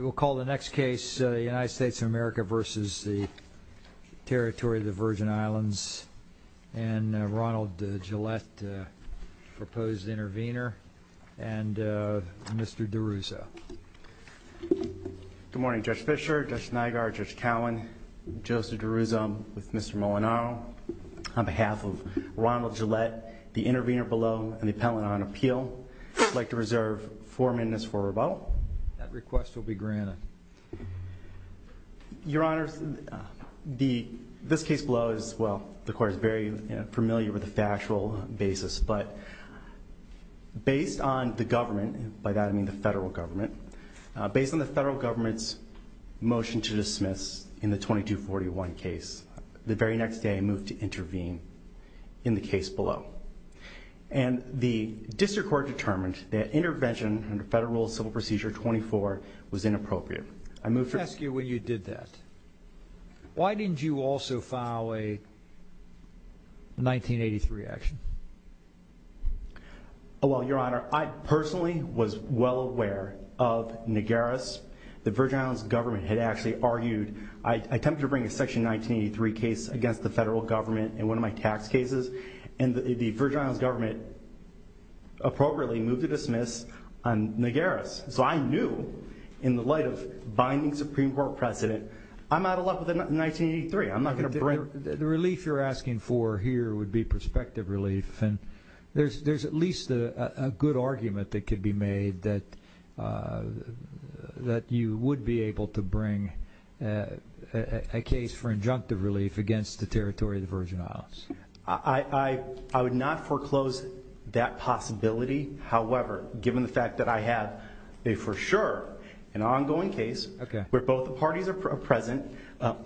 We'll call the next case the United States of America versus the Territory of the Virgin Islands and Ronald Gillette proposed intervener and Mr. DeRusso. Good morning Judge Fischer, Judge Nygard, Judge Cowan, Joseph DeRusso with Mr. Molinaro. On behalf of Ronald Gillette, the intervener below, and the request will be granted. Your Honor, this case below is, well, the court is very familiar with the factual basis, but based on the government, by that I mean the federal government, based on the federal government's motion to dismiss in the 2241 case, the very next day I moved to intervene in the case below. And the district court determined that intervention under federal civil procedure 24 was inappropriate. I moved to... Let me ask you when you did that, why didn't you also file a 1983 action? Well, Your Honor, I personally was well aware of Nagaris. The Virgin Islands government had actually argued, I attempted to bring a section 1983 case against the federal government in one of my tax cases, and the Virgin Islands government appropriately moved to Nagaris. So I knew, in the light of binding Supreme Court precedent, I'm out of luck with 1983. I'm not going to bring... The relief you're asking for here would be prospective relief, and there's at least a good argument that could be made that you would be able to bring a case for injunctive relief against the territory of the Virgin Islands. I would not foreclose that possibility, however, given the fact that I have, for sure, an ongoing case where both parties are present,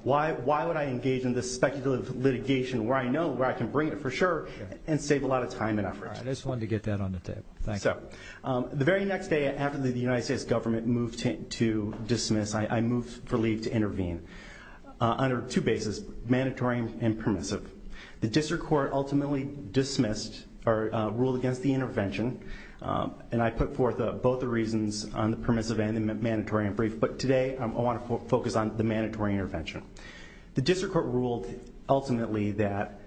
why would I engage in this speculative litigation where I know where I can bring it for sure and save a lot of time and effort. I just wanted to get that on the table. So, the very next day after the United States government moved to dismiss, I moved for leave to intervene under two bases, mandatory and permissive. The district court ultimately ruled against the both the reasons on the permissive and the mandatory and brief, but today, I want to focus on the mandatory intervention. The district court ruled, ultimately, that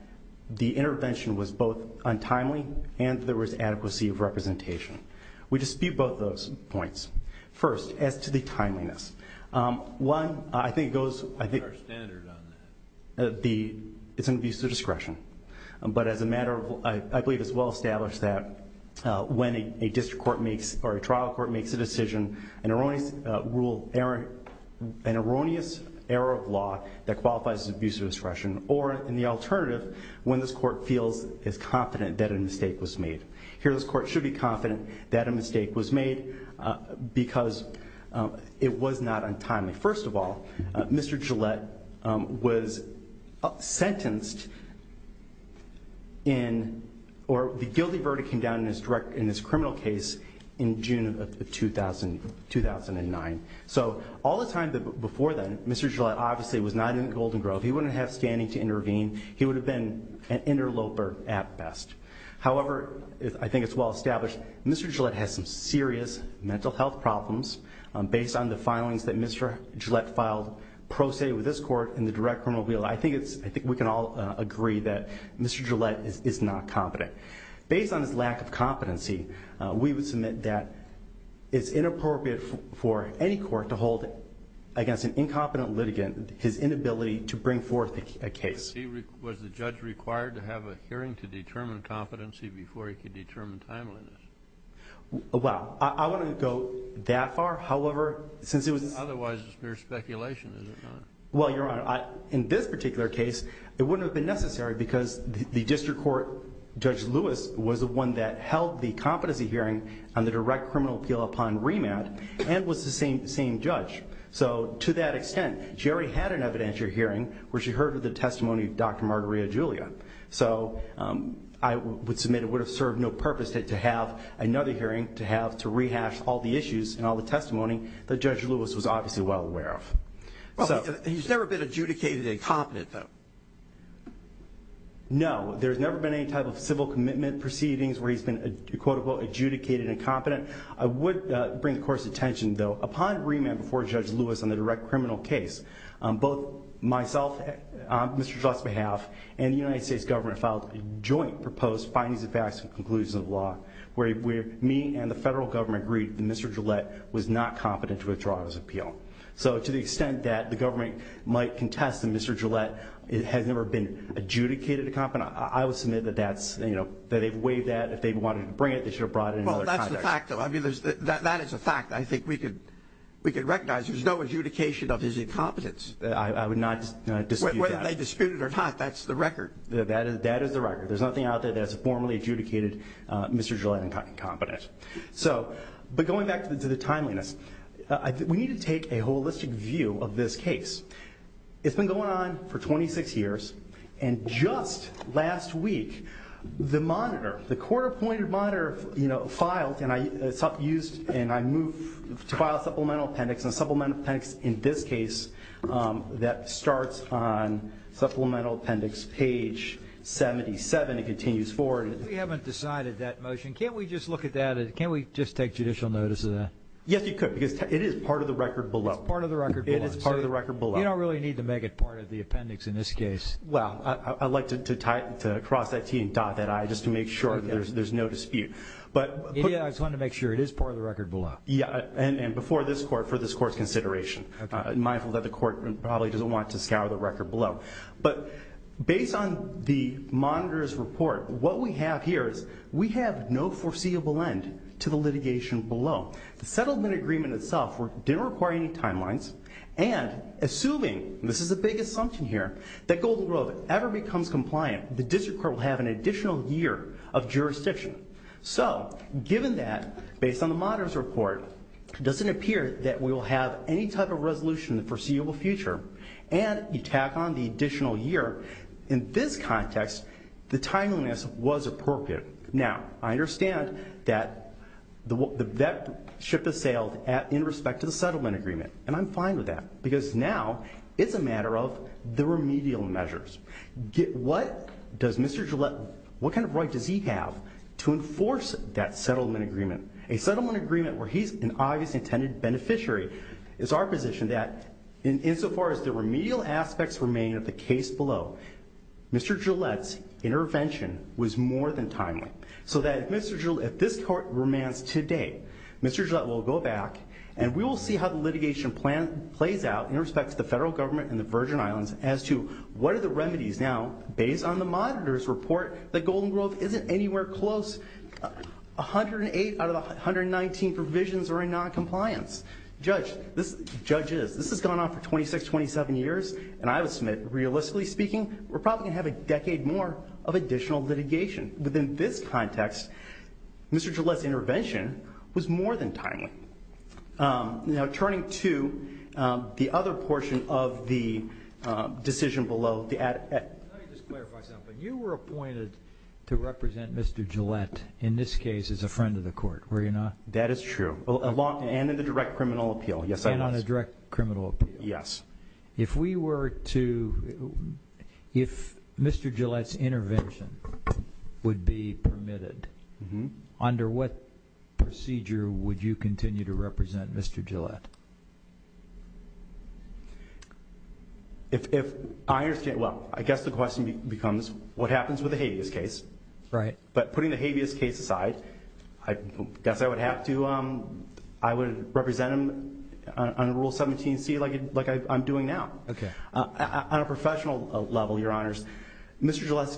the intervention was both untimely and there was adequacy of representation. We dispute both those points. First, as to the timeliness. One, I think it goes... It's in the use of discretion, but as a matter of... I believe it's well established that when a district court makes, or a trial court makes a decision, an erroneous rule, an erroneous error of law that qualifies as abuse of discretion, or in the alternative, when this court feels as confident that a mistake was made. Here, this court should be confident that a mistake was made because it was not untimely. First of all, Mr. Gillette was sentenced in, or the guilty verdict came down in his criminal case in June of 2009. So, all the time before then, Mr. Gillette obviously was not in the Golden Grove. He wouldn't have standing to intervene. He would have been an interloper at best. However, I think it's well established, Mr. Gillette has some serious mental health problems based on the filings that Mr. Gillette filed pro se with this court in the direct criminal field. I think we can all agree that Mr. Gillette is not competent. Based on his lack of competency, we would submit that it's inappropriate for any court to hold against an incompetent litigant his inability to bring forth a case. Was the judge required to have a hearing to determine competency before he could determine timeliness? Well, I wouldn't go that far. However, since it was... Otherwise, it's mere speculation, is it not? Well, Your Honor, in this particular case, it wouldn't have been necessary because the district court, Judge Lewis, was the one that held the competency hearing on the direct criminal appeal upon remand and was the same judge. So, to that extent, she already had an evidentiary hearing where she heard the testimony of Dr. Margarita Julia. So, I would submit it would have served no purpose to have another hearing to have to rehash all the issues and all the testimony that Judge Lewis was obviously well aware of. He's never been adjudicated incompetent, though? No, there's never been any type of civil commitment proceedings where he's been, quote-unquote, adjudicated incompetent. I would bring the court's attention, though, upon remand before Judge Lewis on the direct criminal case, both myself, on Mr. Gillette's behalf, and the United States government filed a joint proposed findings of facts and conclusions of the law where me and the federal government agreed that Mr. Gillette was not competent to withdraw his appeal. So, to the extent that the government might contest that Mr. Gillette has never been adjudicated incompetent, I would submit that that's, you know, that they've waived that. If they wanted to bring it, they should have brought it in another context. That is a fact, though. I mean, that is a fact. I think we could recognize there's no adjudication of his incompetence. I would not dispute that. Whether they dispute it or not, that's the record. That is the record. There's nothing out there that has formally adjudicated Mr. Gillette incompetent. So, but going back to the timeliness, we need to take a holistic view of this case. It's been going on for 26 years, and just last week, the monitor, the court-appointed monitor, you know, filed and I used and I moved to file a supplemental appendix, and a supplemental appendix in this case that starts on supplemental appendix page 77. It continues forward. We haven't decided that motion. Can't we just look at that? Can't we just take judicial notice of that? Yes, you could because it is part of the record below. It's part of the record below. It is part of the record below. You don't really need to make it part of the appendix in this case. Well, I'd like to cross that T and dot that I just to make sure there's no dispute. Yeah, I just wanted to make sure it is part of the record below. Yeah, and before this court, for this court's consideration. Mindful that the court probably doesn't want to scour the record below. But based on the monitor's report, what we have here is we have no foreseeable end to the litigation below. The settlement agreement itself didn't require any timelines, and assuming, and this is a big assumption here, that Golden Grove ever becomes compliant, the district court will have an additional year of jurisdiction. So, given that, based on the monitor's report, it doesn't appear that we will have any type of resolution in the foreseeable future, and you tack on the additional year, in this context, the timeliness was appropriate. Now, I understand that the vet ship has sailed in respect to the settlement agreement, and I'm fine with that because now it's a matter of the remedial measures. What does Mr. Gillette, what kind of right does he have to enforce that settlement agreement? A settlement agreement where he's an obviously intended beneficiary is our position that, insofar as the remedial aspects remain of the case below, Mr. Gillette's intervention was more than timely. So that if Mr. Gillette, if this court remains today, Mr. Gillette will go back, and we will see how the litigation plan plays out in respect to the federal government and the Virgin Islands as to what are the remedies now, based on the monitor's report, that Golden Grove isn't anywhere close, 108 out of the 119 provisions are in noncompliance. Judge, judges, this has gone on for 26, 27 years, and I would submit, realistically speaking, we're probably going to have a decade more of additional litigation. Within this context, Mr. Gillette's intervention was more than timely. Now, turning to the other portion of the decision below. Let me just clarify something. You were appointed to represent Mr. Gillette, in this case, as a friend of the court, were you not? That is true, along and in the direct criminal appeal, yes, I was. And on a direct criminal appeal. Yes. If we were to, if Mr. Gillette's intervention would be permitted, under what procedure would you continue to represent Mr. Gillette? If I understand, well, I guess the question becomes what happens with the habeas case. Right. But putting the habeas case aside, I guess I would have to, I would represent him on Rule 17C, like I'm doing now. Okay. On a professional level, Your Honors, Mr. Gillette,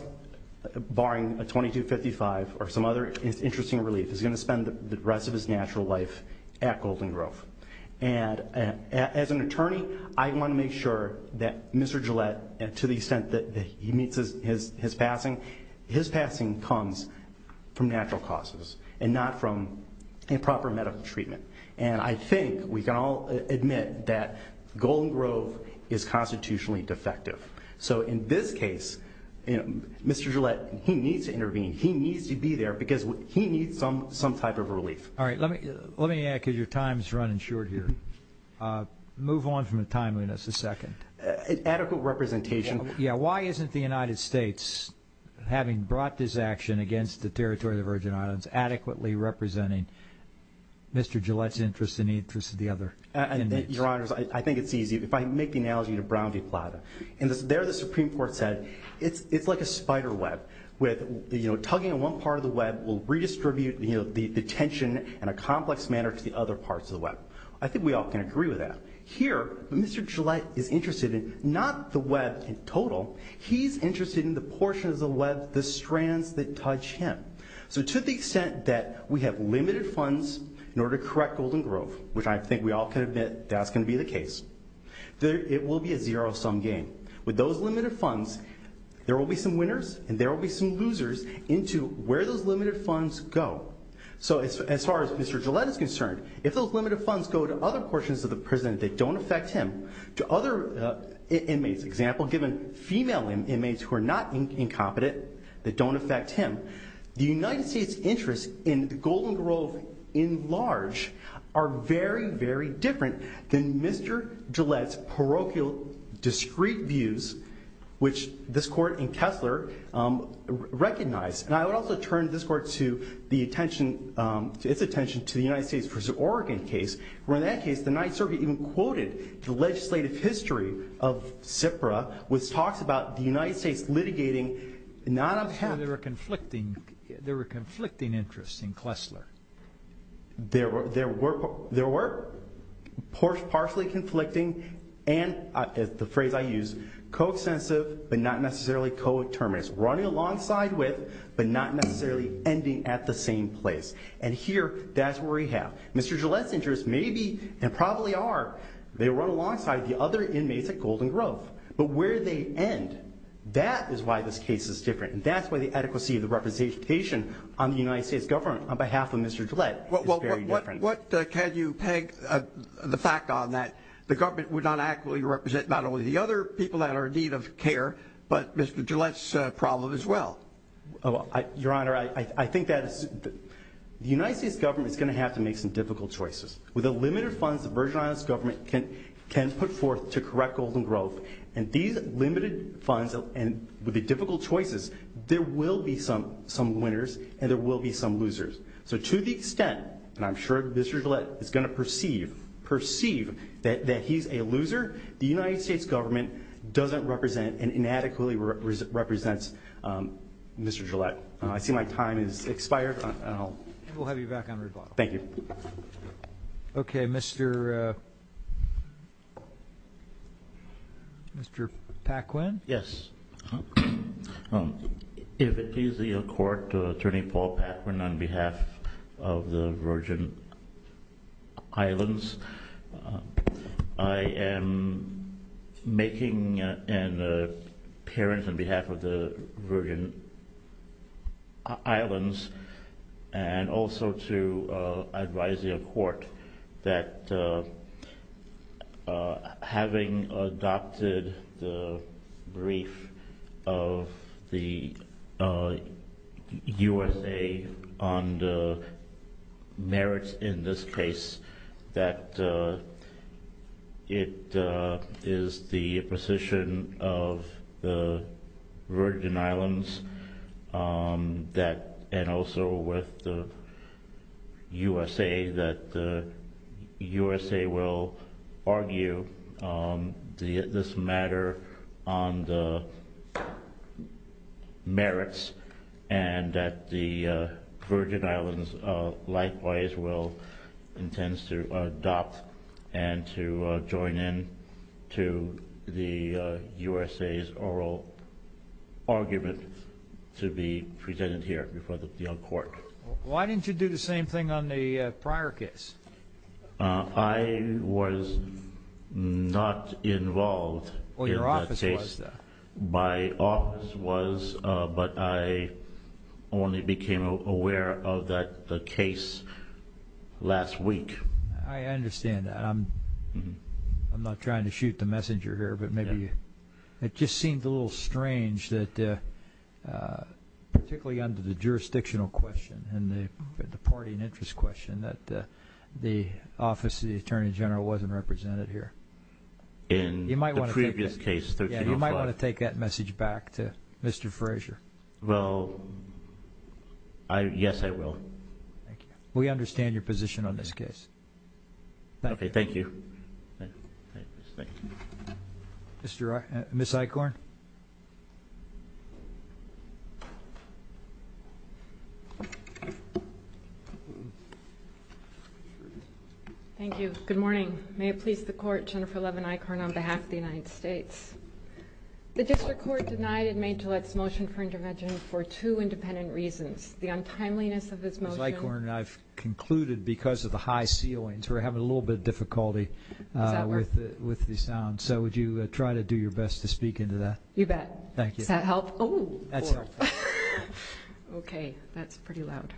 barring a 2255 or some other interesting relief, is going to spend the rest of his natural life at Golden Grove. And as an attorney, I want to make sure that Mr. Gillette, to the extent that he meets his passing, his passing comes from natural causes and not from improper medical treatment. And I think we can all admit that Golden Grove is constitutionally defective. So in this case, Mr. Gillette, he needs to intervene. He needs to be there because he needs some type of relief. All right. Let me add because your time is running short here. Move on from the timeliness a second. Adequate representation. Yeah. Why isn't the United States, having brought this action against the Territory of the Virgin Islands, adequately representing Mr. Gillette's interest and the interest of the other inmates? Your Honors, I think it's easy. If I make the analogy to Brown v. Plata, there the Supreme Court said, it's like a spider web with tugging on one part of the web will redistribute the tension in a complex manner to the other parts of the web. I think we all can agree with that. Here, Mr. Gillette is interested in not the web in total. He's interested in the portion of the web, the strands that touch him. So to the extent that we have limited funds in order to correct Golden Grove, which I think we all can admit that's going to be the case, it will be a zero-sum game. With those limited funds, there will be some winners and there will be some losers into where those limited funds go. So as far as Mr. Gillette is concerned, if those limited funds go to other portions of the prison that don't affect him, to other inmates, for example, given female inmates who are not incompetent, that don't affect him, the United States' interests in Golden Grove in large are very, very different than Mr. Gillette's parochial, discreet views, which this Court and Kessler recognize. And I would also turn this Court's attention to the United States v. Oregon case, where in that case the Ninth Circuit even quoted the legislative history of CIPRA, which talks about the United States litigating not a path. So there were conflicting interests in Kessler. There were partially conflicting and, the phrase I use, co-extensive but not necessarily co-determinist, running alongside with but not necessarily ending at the same place. And here, that's where we have. Mr. Gillette's interests may be, and probably are, they run alongside the other inmates at Golden Grove. But where they end, that is why this case is different, and that's why the adequacy of the representation on the United States government on behalf of Mr. Gillette is very different. What can you peg the fact on that the government would not adequately represent not only the other people that are in need of care, but Mr. Gillette's problem as well? Your Honor, I think that the United States government is going to have to make some difficult choices. With the limited funds the Virgin Islands government can put forth to correct Golden Grove, and these limited funds, and with the difficult choices, there will be some winners and there will be some losers. So to the extent, and I'm sure Mr. Gillette is going to perceive that he's a loser, the United States government doesn't represent and inadequately represents Mr. Gillette. I see my time has expired. We'll have you back on rebuttal. Thank you. Okay, Mr. Paquin? Yes. If it please the Court, Attorney Paul Paquin on behalf of the Virgin Islands. I am making an appearance on behalf of the Virgin Islands and also to advise the Court that having adopted the brief of the USA on the merits in this case, that it is the position of the Virgin Islands and also with the USA that the USA will argue this matter on the merits and that the Virgin Islands likewise will intend to adopt and to join in to the USA's oral argument to be presented here before the court. Why didn't you do the same thing on the prior case? I was not involved in that case. Well, your office was, though. My office was, but I only became aware of that case last week. I understand that. I'm not trying to shoot the messenger here, but maybe it just seemed a little strange that, particularly under the jurisdictional question and the party and interest question, that the office of the Attorney General wasn't represented here. In the previous case, 1305. Yes, you might want to take that message back to Mr. Frazier. Well, yes, I will. Thank you. We understand your position on this case. Okay, thank you. Ms. Eichhorn. Thank you. Good morning. May it please the Court, Jennifer Levin Eichhorn on behalf of the United States. The district court denied and made Gillette's motion for intervention for two independent reasons, the untimeliness of his motion. Ms. Eichhorn, I've concluded because of the high ceilings, we're having a little bit of difficulty with the sound, so would you try to do your best to speak into that? You bet. Thank you. Does that help? That's helpful. Okay, that's pretty loud.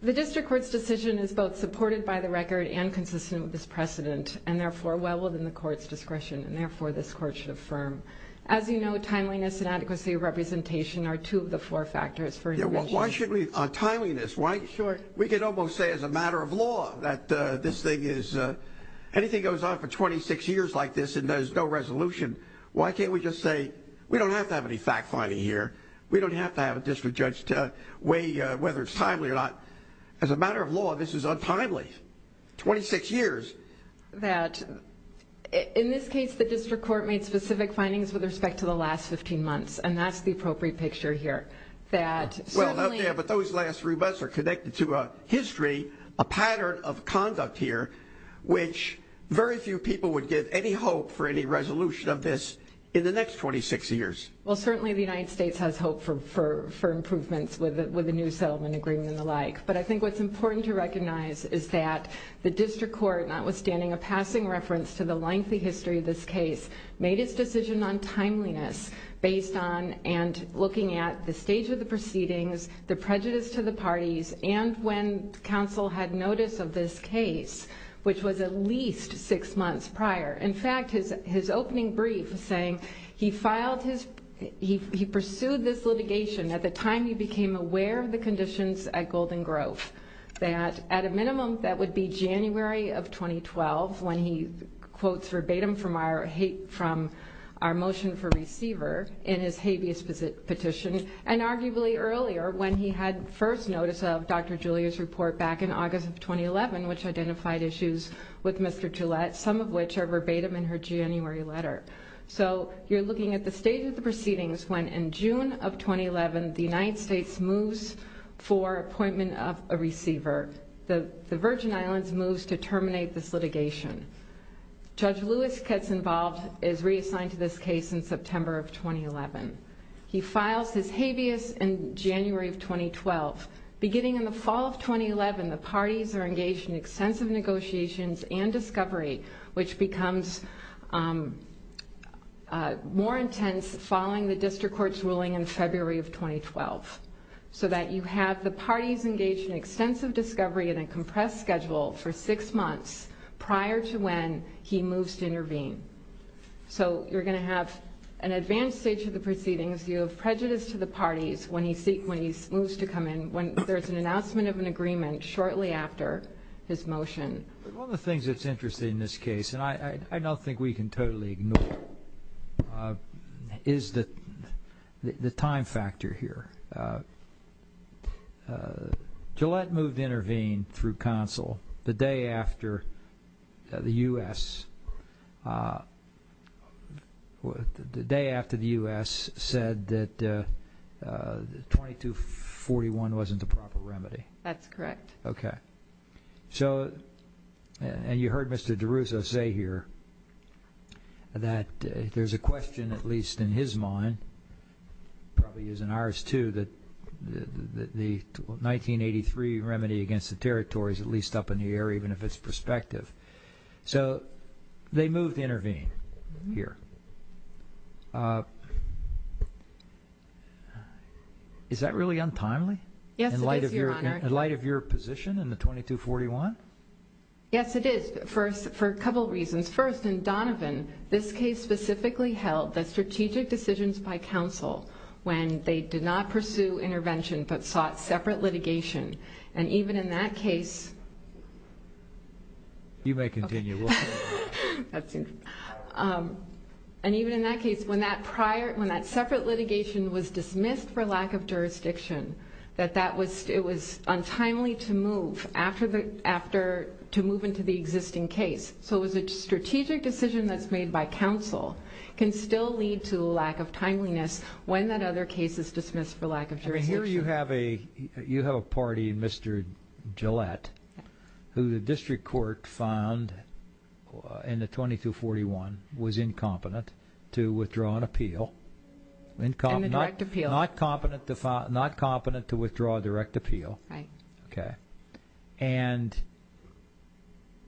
The district court's decision is both supported by the record and consistent with this precedent and therefore well within the court's discretion and therefore this court should affirm. As you know, timeliness and adequacy of representation are two of the four factors for intervention. Yeah, well, why should we, on timeliness, why? Sure. We could almost say as a matter of law that this thing is, anything goes on for 26 years like this and there's no resolution, why can't we just say we don't have to have any fact-finding here, we don't have to have a district judge to weigh whether it's timely or not. As a matter of law, this is untimely, 26 years. In this case, the district court made specific findings with respect to the last 15 months and that's the appropriate picture here. Well, okay, but those last three months are connected to a history, a pattern of conduct here, which very few people would give any hope for any resolution of this in the next 26 years. Well, certainly the United States has hope for improvements with a new settlement agreement and the like, but I think what's important to recognize is that the district court, notwithstanding a passing reference to the lengthy history of this case, made its decision on timeliness based on and looking at the stage of the proceedings, the prejudice to the parties, and when counsel had notice of this case, which was at least six months prior. In fact, his opening brief was saying, he pursued this litigation at the time he became aware of the conditions at Golden Grove, that at a minimum that would be January of 2012, when he quotes verbatim from our motion for receiver in his habeas petition, and arguably earlier when he had first notice of Dr. Julia's report back in August of 2011, which identified issues with Mr. Gillette, some of which are verbatim in her January letter. So you're looking at the stage of the proceedings when in June of 2011, the United States moves for appointment of a receiver. The Virgin Islands moves to terminate this litigation. Judge Lewis gets involved, is reassigned to this case in September of 2011. He files his habeas in January of 2012. Beginning in the fall of 2011, the parties are engaged in extensive negotiations and discovery, which becomes more intense following the district court's ruling in February of 2012, so that you have the parties engaged in extensive discovery and a compressed schedule for six months prior to when he moves to intervene. So you're going to have an advanced stage of the proceedings. You have prejudice to the parties when he moves to come in, when there's an announcement of an agreement shortly after his motion. One of the things that's interesting in this case, and I don't think we can totally ignore it, is the time factor here. Gillette moved to intervene through counsel the day after the U.S. The day after the U.S. said that 2241 wasn't the proper remedy. That's correct. Okay. And you heard Mr. DeRusso say here that there's a question, at least in his mind, probably is in ours too, that the 1983 remedy against the territory is at least up in the air, even if it's prospective. So they moved to intervene here. Is that really untimely? Yes, it is, Your Honor. In light of your position in the 2241? Yes, it is, for a couple reasons. First, in Donovan, this case specifically held that strategic decisions by counsel when they did not pursue intervention but sought separate litigation, and even in that case when that separate litigation was dismissed for lack of jurisdiction, that it was untimely to move into the existing case. So a strategic decision that's made by counsel can still lead to lack of timeliness when that other case is dismissed for lack of jurisdiction. Here you have a party, Mr. Gillette, who the district court found in the 2241 was incompetent to withdraw an appeal. And a direct appeal. Not competent to withdraw a direct appeal. Right. Okay. And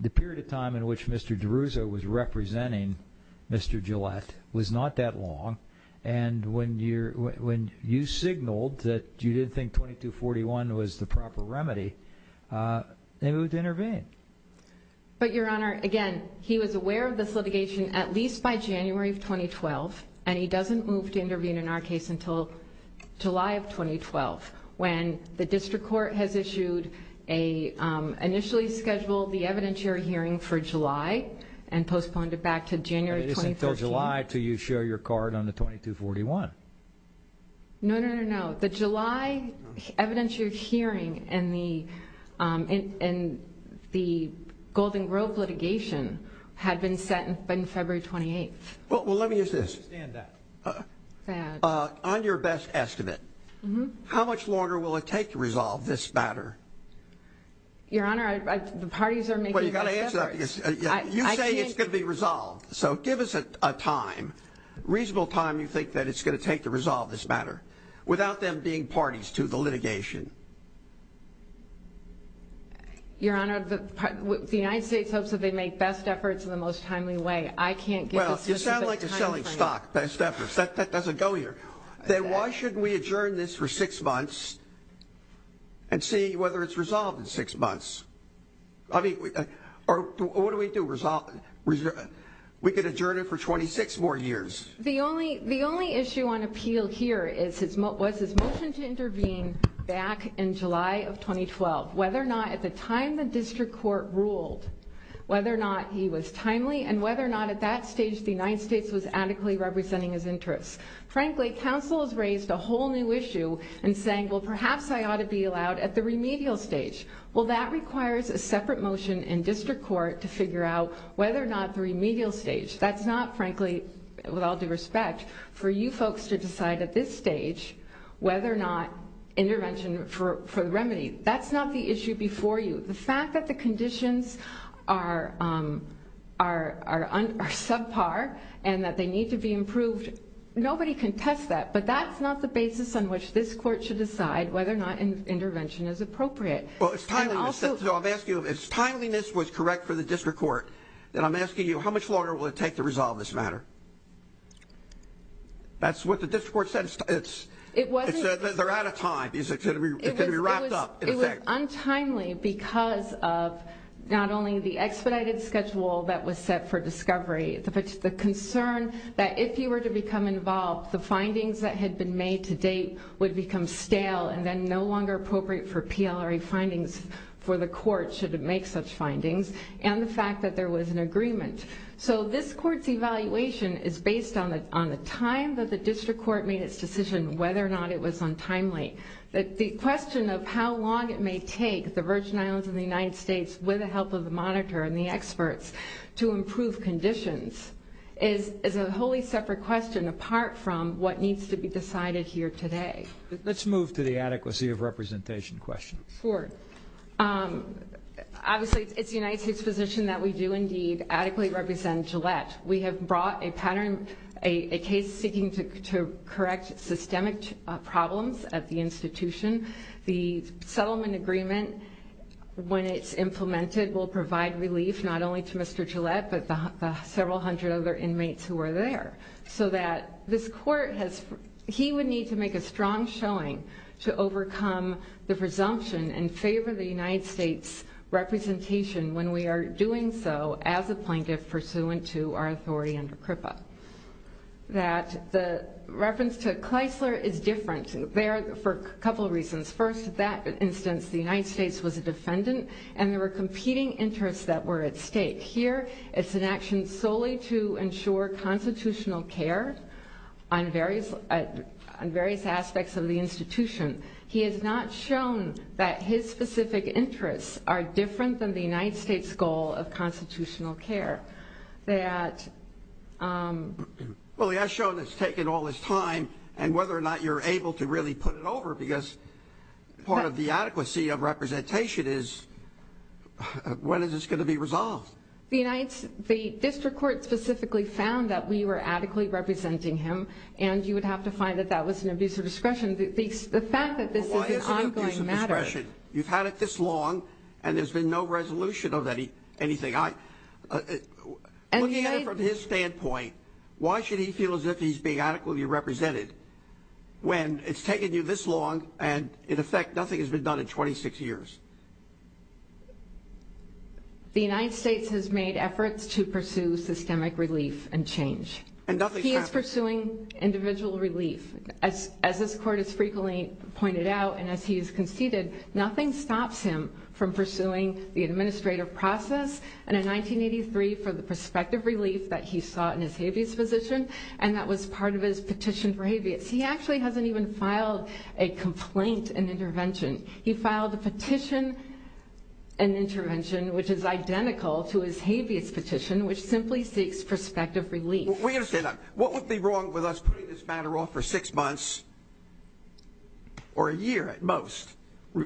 the period of time in which Mr. DeRusso was representing Mr. Gillette was not that long, and when you signaled that you didn't think 2241 was the proper remedy, they moved to intervene. But, Your Honor, again, he was aware of this litigation at least by January of 2012, and he doesn't move to intervene in our case until July of 2012, when the district court has initially scheduled the evidentiary hearing for July and postponed it back to January 2015. So it's not until July until you show your card on the 2241. No, no, no, no. The July evidentiary hearing in the Golden Grove litigation had been set in February 28th. Well, let me ask this. On your best estimate, how much longer will it take to resolve this matter? Your Honor, the parties are making that effort. Well, you've got to answer that. You say it's going to be resolved, so give us a time, reasonable time you think that it's going to take to resolve this matter, without them being parties to the litigation. Your Honor, the United States hopes that they make best efforts in the most timely way. I can't give us much of a time frame. Well, you sound like you're selling stock, best efforts. That doesn't go here. Then why shouldn't we adjourn this for six months and see whether it's resolved in six months? I mean, what do we do? We could adjourn it for 26 more years. The only issue on appeal here was his motion to intervene back in July of 2012, whether or not at the time the district court ruled, whether or not he was timely, and whether or not at that stage the United States was adequately representing his interests. Frankly, counsel has raised a whole new issue in saying, well, perhaps I ought to be allowed at the remedial stage. Well, that requires a separate motion in district court to figure out whether or not the remedial stage. That's not, frankly, with all due respect, for you folks to decide at this stage whether or not intervention for the remedy. That's not the issue before you. The fact that the conditions are subpar and that they need to be improved, nobody can test that. But that's not the basis on which this court should decide whether or not intervention is appropriate. Well, it's timeliness. So I'm asking you, if timeliness was correct for the district court, then I'm asking you how much longer will it take to resolve this matter? That's what the district court said. It said they're out of time. It's going to be wrapped up, in effect. It was untimely because of not only the expedited schedule that was set for discovery, but the concern that if you were to become involved, the findings that had been made to date would become stale and then no longer appropriate for PLRA findings for the court should it make such findings, and the fact that there was an agreement. So this court's evaluation is based on the time that the district court made its decision whether or not it was untimely. The question of how long it may take the Virgin Islands and the United States, with the help of the monitor and the experts, to improve conditions is a wholly separate question apart from what needs to be decided here today. Let's move to the adequacy of representation question. Sure. Obviously, it's the United States position that we do, indeed, adequately represent Gillette. We have brought a case seeking to correct systemic problems at the institution. The settlement agreement, when it's implemented, will provide relief not only to Mr. Gillette but the several hundred other inmates who are there, so that this court would need to make a strong showing to overcome the presumption and favor the United States representation when we are doing so as a plaintiff pursuant to our authority under CRIPA. The reference to Kleisler is different. There are a couple of reasons. First, in that instance, the United States was a defendant, and there were competing interests that were at stake. Here, it's an action solely to ensure constitutional care on various aspects of the institution. He has not shown that his specific interests are different than the United States' goal of constitutional care. Well, he has shown it's taken all this time, and whether or not you're able to really put it over, because part of the adequacy of representation is when is this going to be resolved. The district court specifically found that we were adequately representing him, and you would have to find that that was an abuse of discretion. The fact that this is an ongoing matter. You've had it this long, and there's been no resolution of anything. Looking at it from his standpoint, why should he feel as if he's being adequately represented when it's taken you this long and, in effect, nothing has been done in 26 years? The United States has made efforts to pursue systemic relief and change. He is pursuing individual relief. As this court has frequently pointed out and as he has conceded, nothing stops him from pursuing the administrative process, and in 1983 for the prospective relief that he sought in his habeas position, and that was part of his petition for habeas. He actually hasn't even filed a complaint and intervention. He filed a petition and intervention, which is identical to his habeas petition, which simply seeks prospective relief. We understand that. What would be wrong with us putting this matter off for six months or a year at most,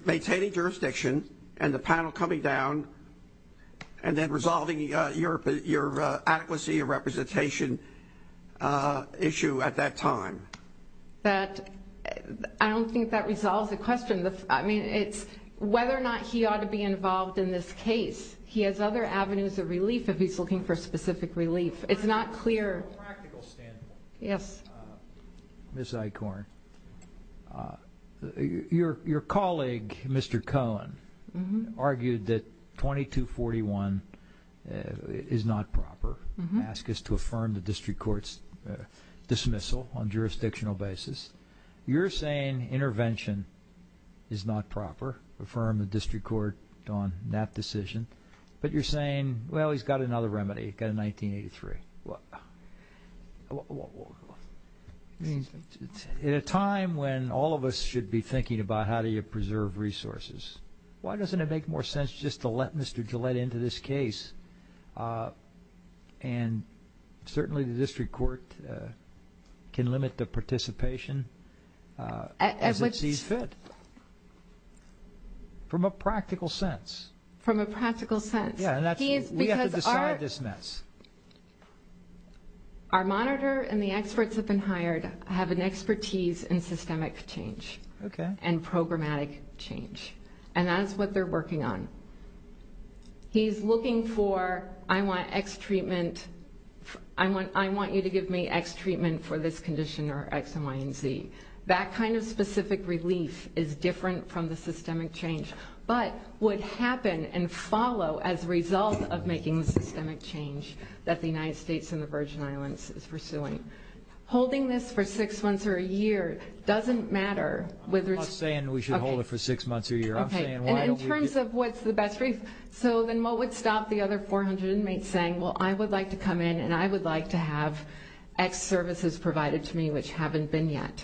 maintaining jurisdiction and the panel coming down and then resolving your adequacy of representation issue at that time? I don't think that resolves the question. I mean, it's whether or not he ought to be involved in this case. He has other avenues of relief if he's looking for specific relief. It's not clear. A practical standpoint. Yes. Ms. Eichhorn, your colleague, Mr. Cohen, argued that 2241 is not proper, asked us to affirm the district court's dismissal on jurisdictional basis. You're saying intervention is not proper, affirm the district court on that decision, but you're saying, well, he's got another remedy, got a 1983. In a time when all of us should be thinking about how do you preserve resources, why doesn't it make more sense just to let Mr. Gillette into this case? And certainly the district court can limit the participation as it sees fit from a practical sense. From a practical sense. We have to decide this mess. Our monitor and the experts that have been hired have an expertise in systemic change and programmatic change, and that is what they're working on. He's looking for I want X treatment, I want you to give me X treatment for this condition or X and Y and Z. That kind of specific relief is different from the systemic change. But would happen and follow as a result of making the systemic change that the United States and the Virgin Islands is pursuing. Holding this for six months or a year doesn't matter. I'm not saying we should hold it for six months or a year. Okay. I'm saying why don't we just. And in terms of what's the best relief. So then what would stop the other 400 inmates saying, well, I would like to come in and I would like to have X services provided to me which haven't been yet.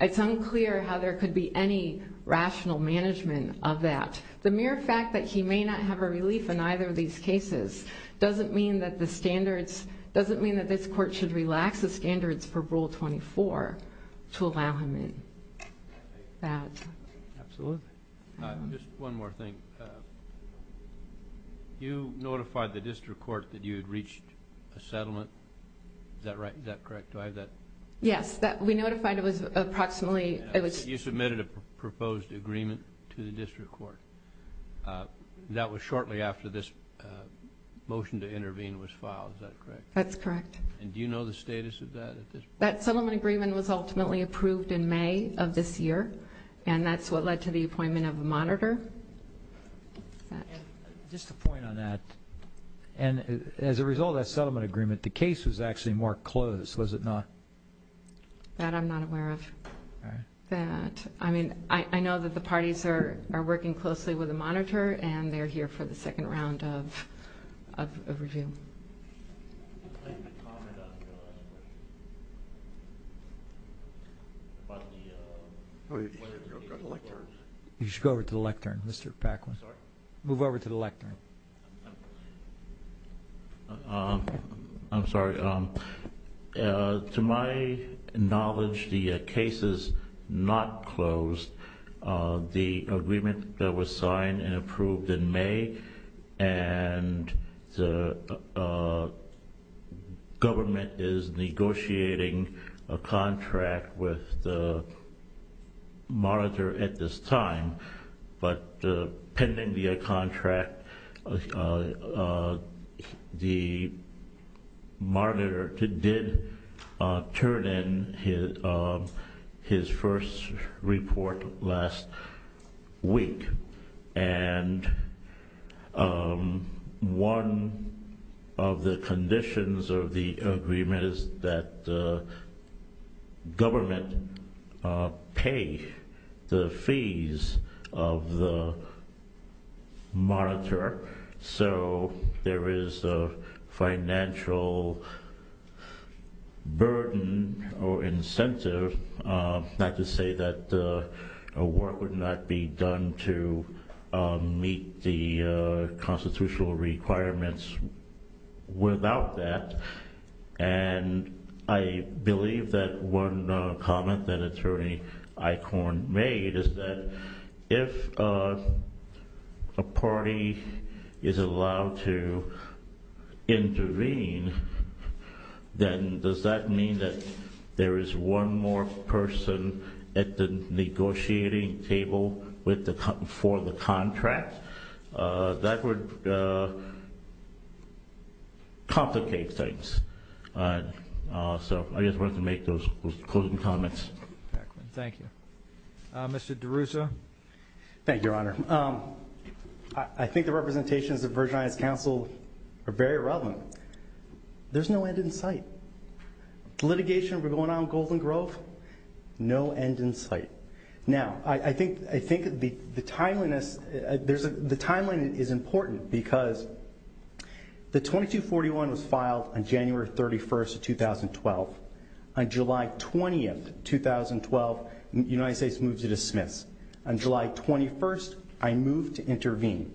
It's unclear how there could be any rational management of that. The mere fact that he may not have a relief in either of these cases doesn't mean that the standards, doesn't mean that this court should relax the standards for Rule 24 to allow him in. Absolutely. Just one more thing. You notified the district court that you had reached a settlement. Is that right? Is that correct? Do I have that? Yes. We notified it was approximately. You submitted a proposed agreement to the district court. That was shortly after this motion to intervene was filed. Is that correct? That's correct. And do you know the status of that? That settlement agreement was ultimately approved in May of this year, and that's what led to the appointment of a monitor. Just a point on that. And as a result of that settlement agreement, the case was actually more closed. Was it not? That I'm not aware of. All right. That. I mean, I know that the parties are working closely with the monitor, and they're here for the second round of review. You should go over to the lectern, Mr. Paquin. Sorry? Move over to the lectern. I'm sorry. To my knowledge, the case is not closed. The agreement that was signed and approved in May, and the government is negotiating a contract with the monitor at this time. But pending the contract, the monitor did turn in his first report last week. And one of the conditions of the agreement is that the government pay the fees of the monitor. So there is a financial burden or incentive, not to say that work would not be done to meet the constitutional requirements without that. And I believe that one comment that Attorney Eichhorn made is that if a party is allowed to intervene, then does that mean that there is one more person at the negotiating table for the contract? That would complicate things. So I just wanted to make those closing comments. Thank you. Mr. DeRusso? Thank you, Your Honor. I think the representations of Virgin Islands Council are very relevant. There's no end in sight. The litigation we're going on in Golden Grove, no end in sight. Now, I think the timeline is important because the 2241 was filed on January 31, 2012. On July 20, 2012, the United States moved to dismiss. On July 21, I moved to intervene.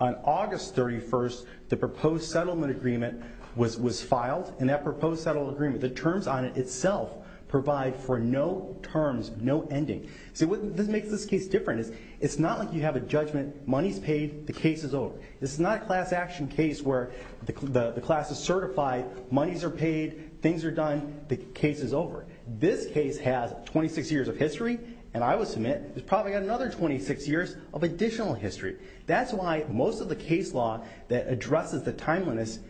On August 31, the proposed settlement agreement was filed. And that proposed settlement agreement, the terms on it itself provide for no terms, no ending. See, what makes this case different is it's not like you have a judgment, money's paid, the case is over. This is not a class action case where the class is certified, monies are paid, things are done, the case is over. This case has 26 years of history, and I would submit it's probably got another 26 years of additional history. That's why most of the case law that addresses the timeliness,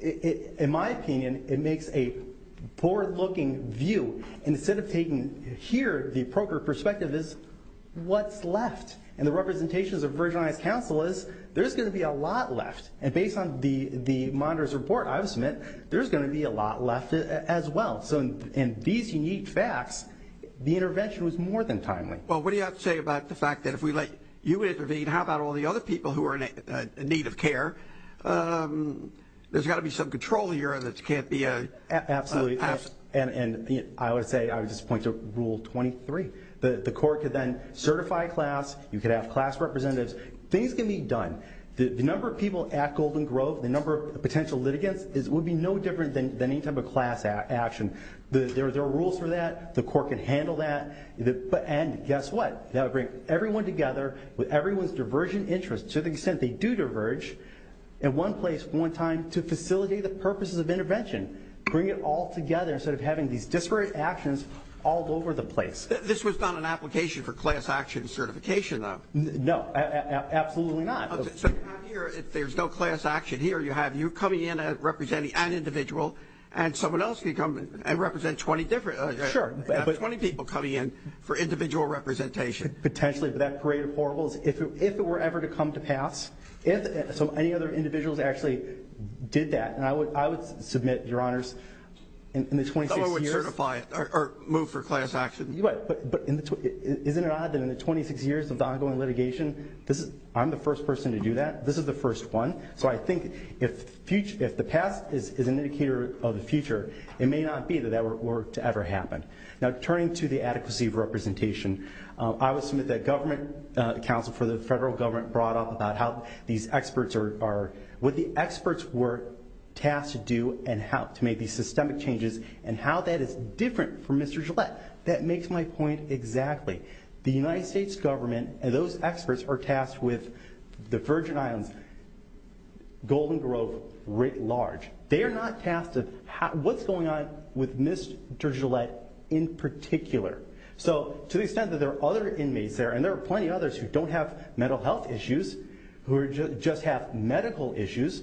in my opinion, it makes a poor-looking view. Instead of taking here, the appropriate perspective is what's left. And the representations of Virgin Islands Council is there's going to be a lot left. And based on the monitor's report, I would submit there's going to be a lot left as well. So in these unique facts, the intervention was more than timely. Well, what do you have to say about the fact that if we let you intervene, how about all the other people who are in need of care? There's got to be some control here that can't be passed. Absolutely, and I would say I would just point to Rule 23. The court could then certify class. You could have class representatives. Things can be done. The number of people at Golden Grove, the number of potential litigants would be no different than any type of class action. There are rules for that. The court can handle that. And guess what? That would bring everyone together with everyone's divergent interests, to the extent they do diverge, in one place, one time, to facilitate the purposes of intervention. Bring it all together instead of having these disparate actions all over the place. This was not an application for class action certification, though. No, absolutely not. So you have here, if there's no class action here, you have you coming in and representing an individual and someone else could come and represent 20 different Sure. 20 people coming in for individual representation. Potentially, but that parade of horribles, if it were ever to come to pass, if any other individuals actually did that, and I would submit, Your Honors, in the 26 years Someone would certify it or move for class action. Right. But isn't it odd that in the 26 years of the ongoing litigation, I'm the first person to do that? This is the first one. So I think if the past is an indicator of the future, it may not be that that were to ever happen. Now, turning to the adequacy of representation, I would submit that government counsel for the federal government brought up about how these experts are what the experts were tasked to do and how to make these systemic changes and how that is different from Mr. Gillette. That makes my point exactly. The United States government and those experts are tasked with the Virgin Islands, Golden Grove writ large. They are not tasked with what's going on with Mr. Gillette in particular. So to the extent that there are other inmates there, and there are plenty of others who don't have mental health issues, who just have medical issues,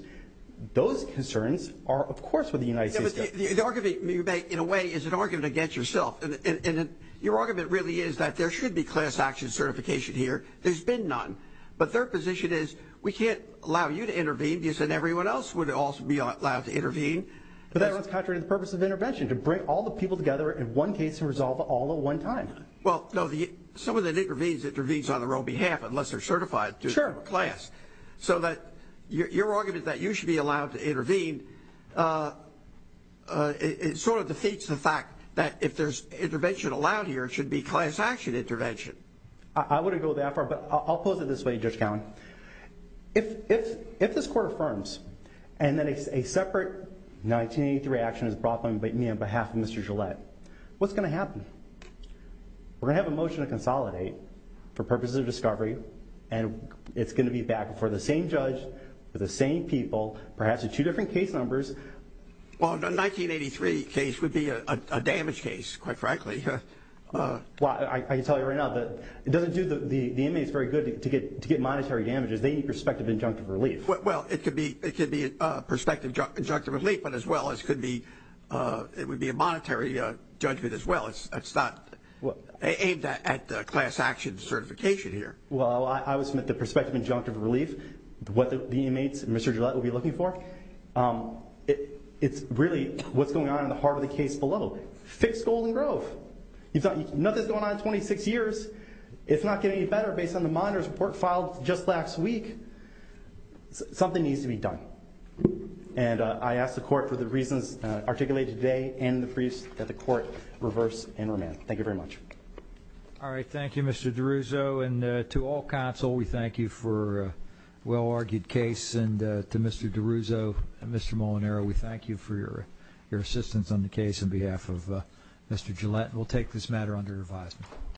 those concerns are, of course, with the United States government. The argument you make, in a way, is an argument against yourself. And your argument really is that there should be class action certification here. There's been none. But their position is we can't allow you to intervene because then everyone else would also be allowed to intervene. But that runs contrary to the purpose of intervention, to bring all the people together in one case and resolve it all at one time. Well, no, someone that intervenes, intervenes on their own behalf unless they're certified to class. So that your argument that you should be allowed to intervene, it sort of defeats the fact that if there's intervention allowed here, it should be class action intervention. I wouldn't go that far, but I'll pose it this way, Judge Cowen. If this court affirms and then a separate 1983 action is brought by me on behalf of Mr. Gillette, what's going to happen? We're going to have a motion to consolidate for purposes of discovery, and it's going to be back before the same judge, with the same people, perhaps with two different case numbers. Well, the 1983 case would be a damaged case, quite frankly. Well, I can tell you right now that it doesn't do the inmates very good to get monetary damages. They need prospective injunctive relief. Well, it could be prospective injunctive relief, but as well as could be, it would be a monetary judgment as well. It's not aimed at class action certification here. Well, I would submit the prospective injunctive relief, what the inmates and Mr. Gillette will be looking for, it's really what's going on in the heart of the case below. Fixed Golden Grove. Nothing's going on in 26 years. It's not getting any better based on the monitor's report filed just last week. Something needs to be done. And I ask the court for the reasons articulated today and the briefs that the court reverse and remand. Thank you very much. All right, thank you, Mr. DiRusso. And to all counsel, we thank you for a well-argued case. And to Mr. DiRusso and Mr. Molinaro, we thank you for your assistance on the case on behalf of Mr. Gillette. We'll take this matter under advisement.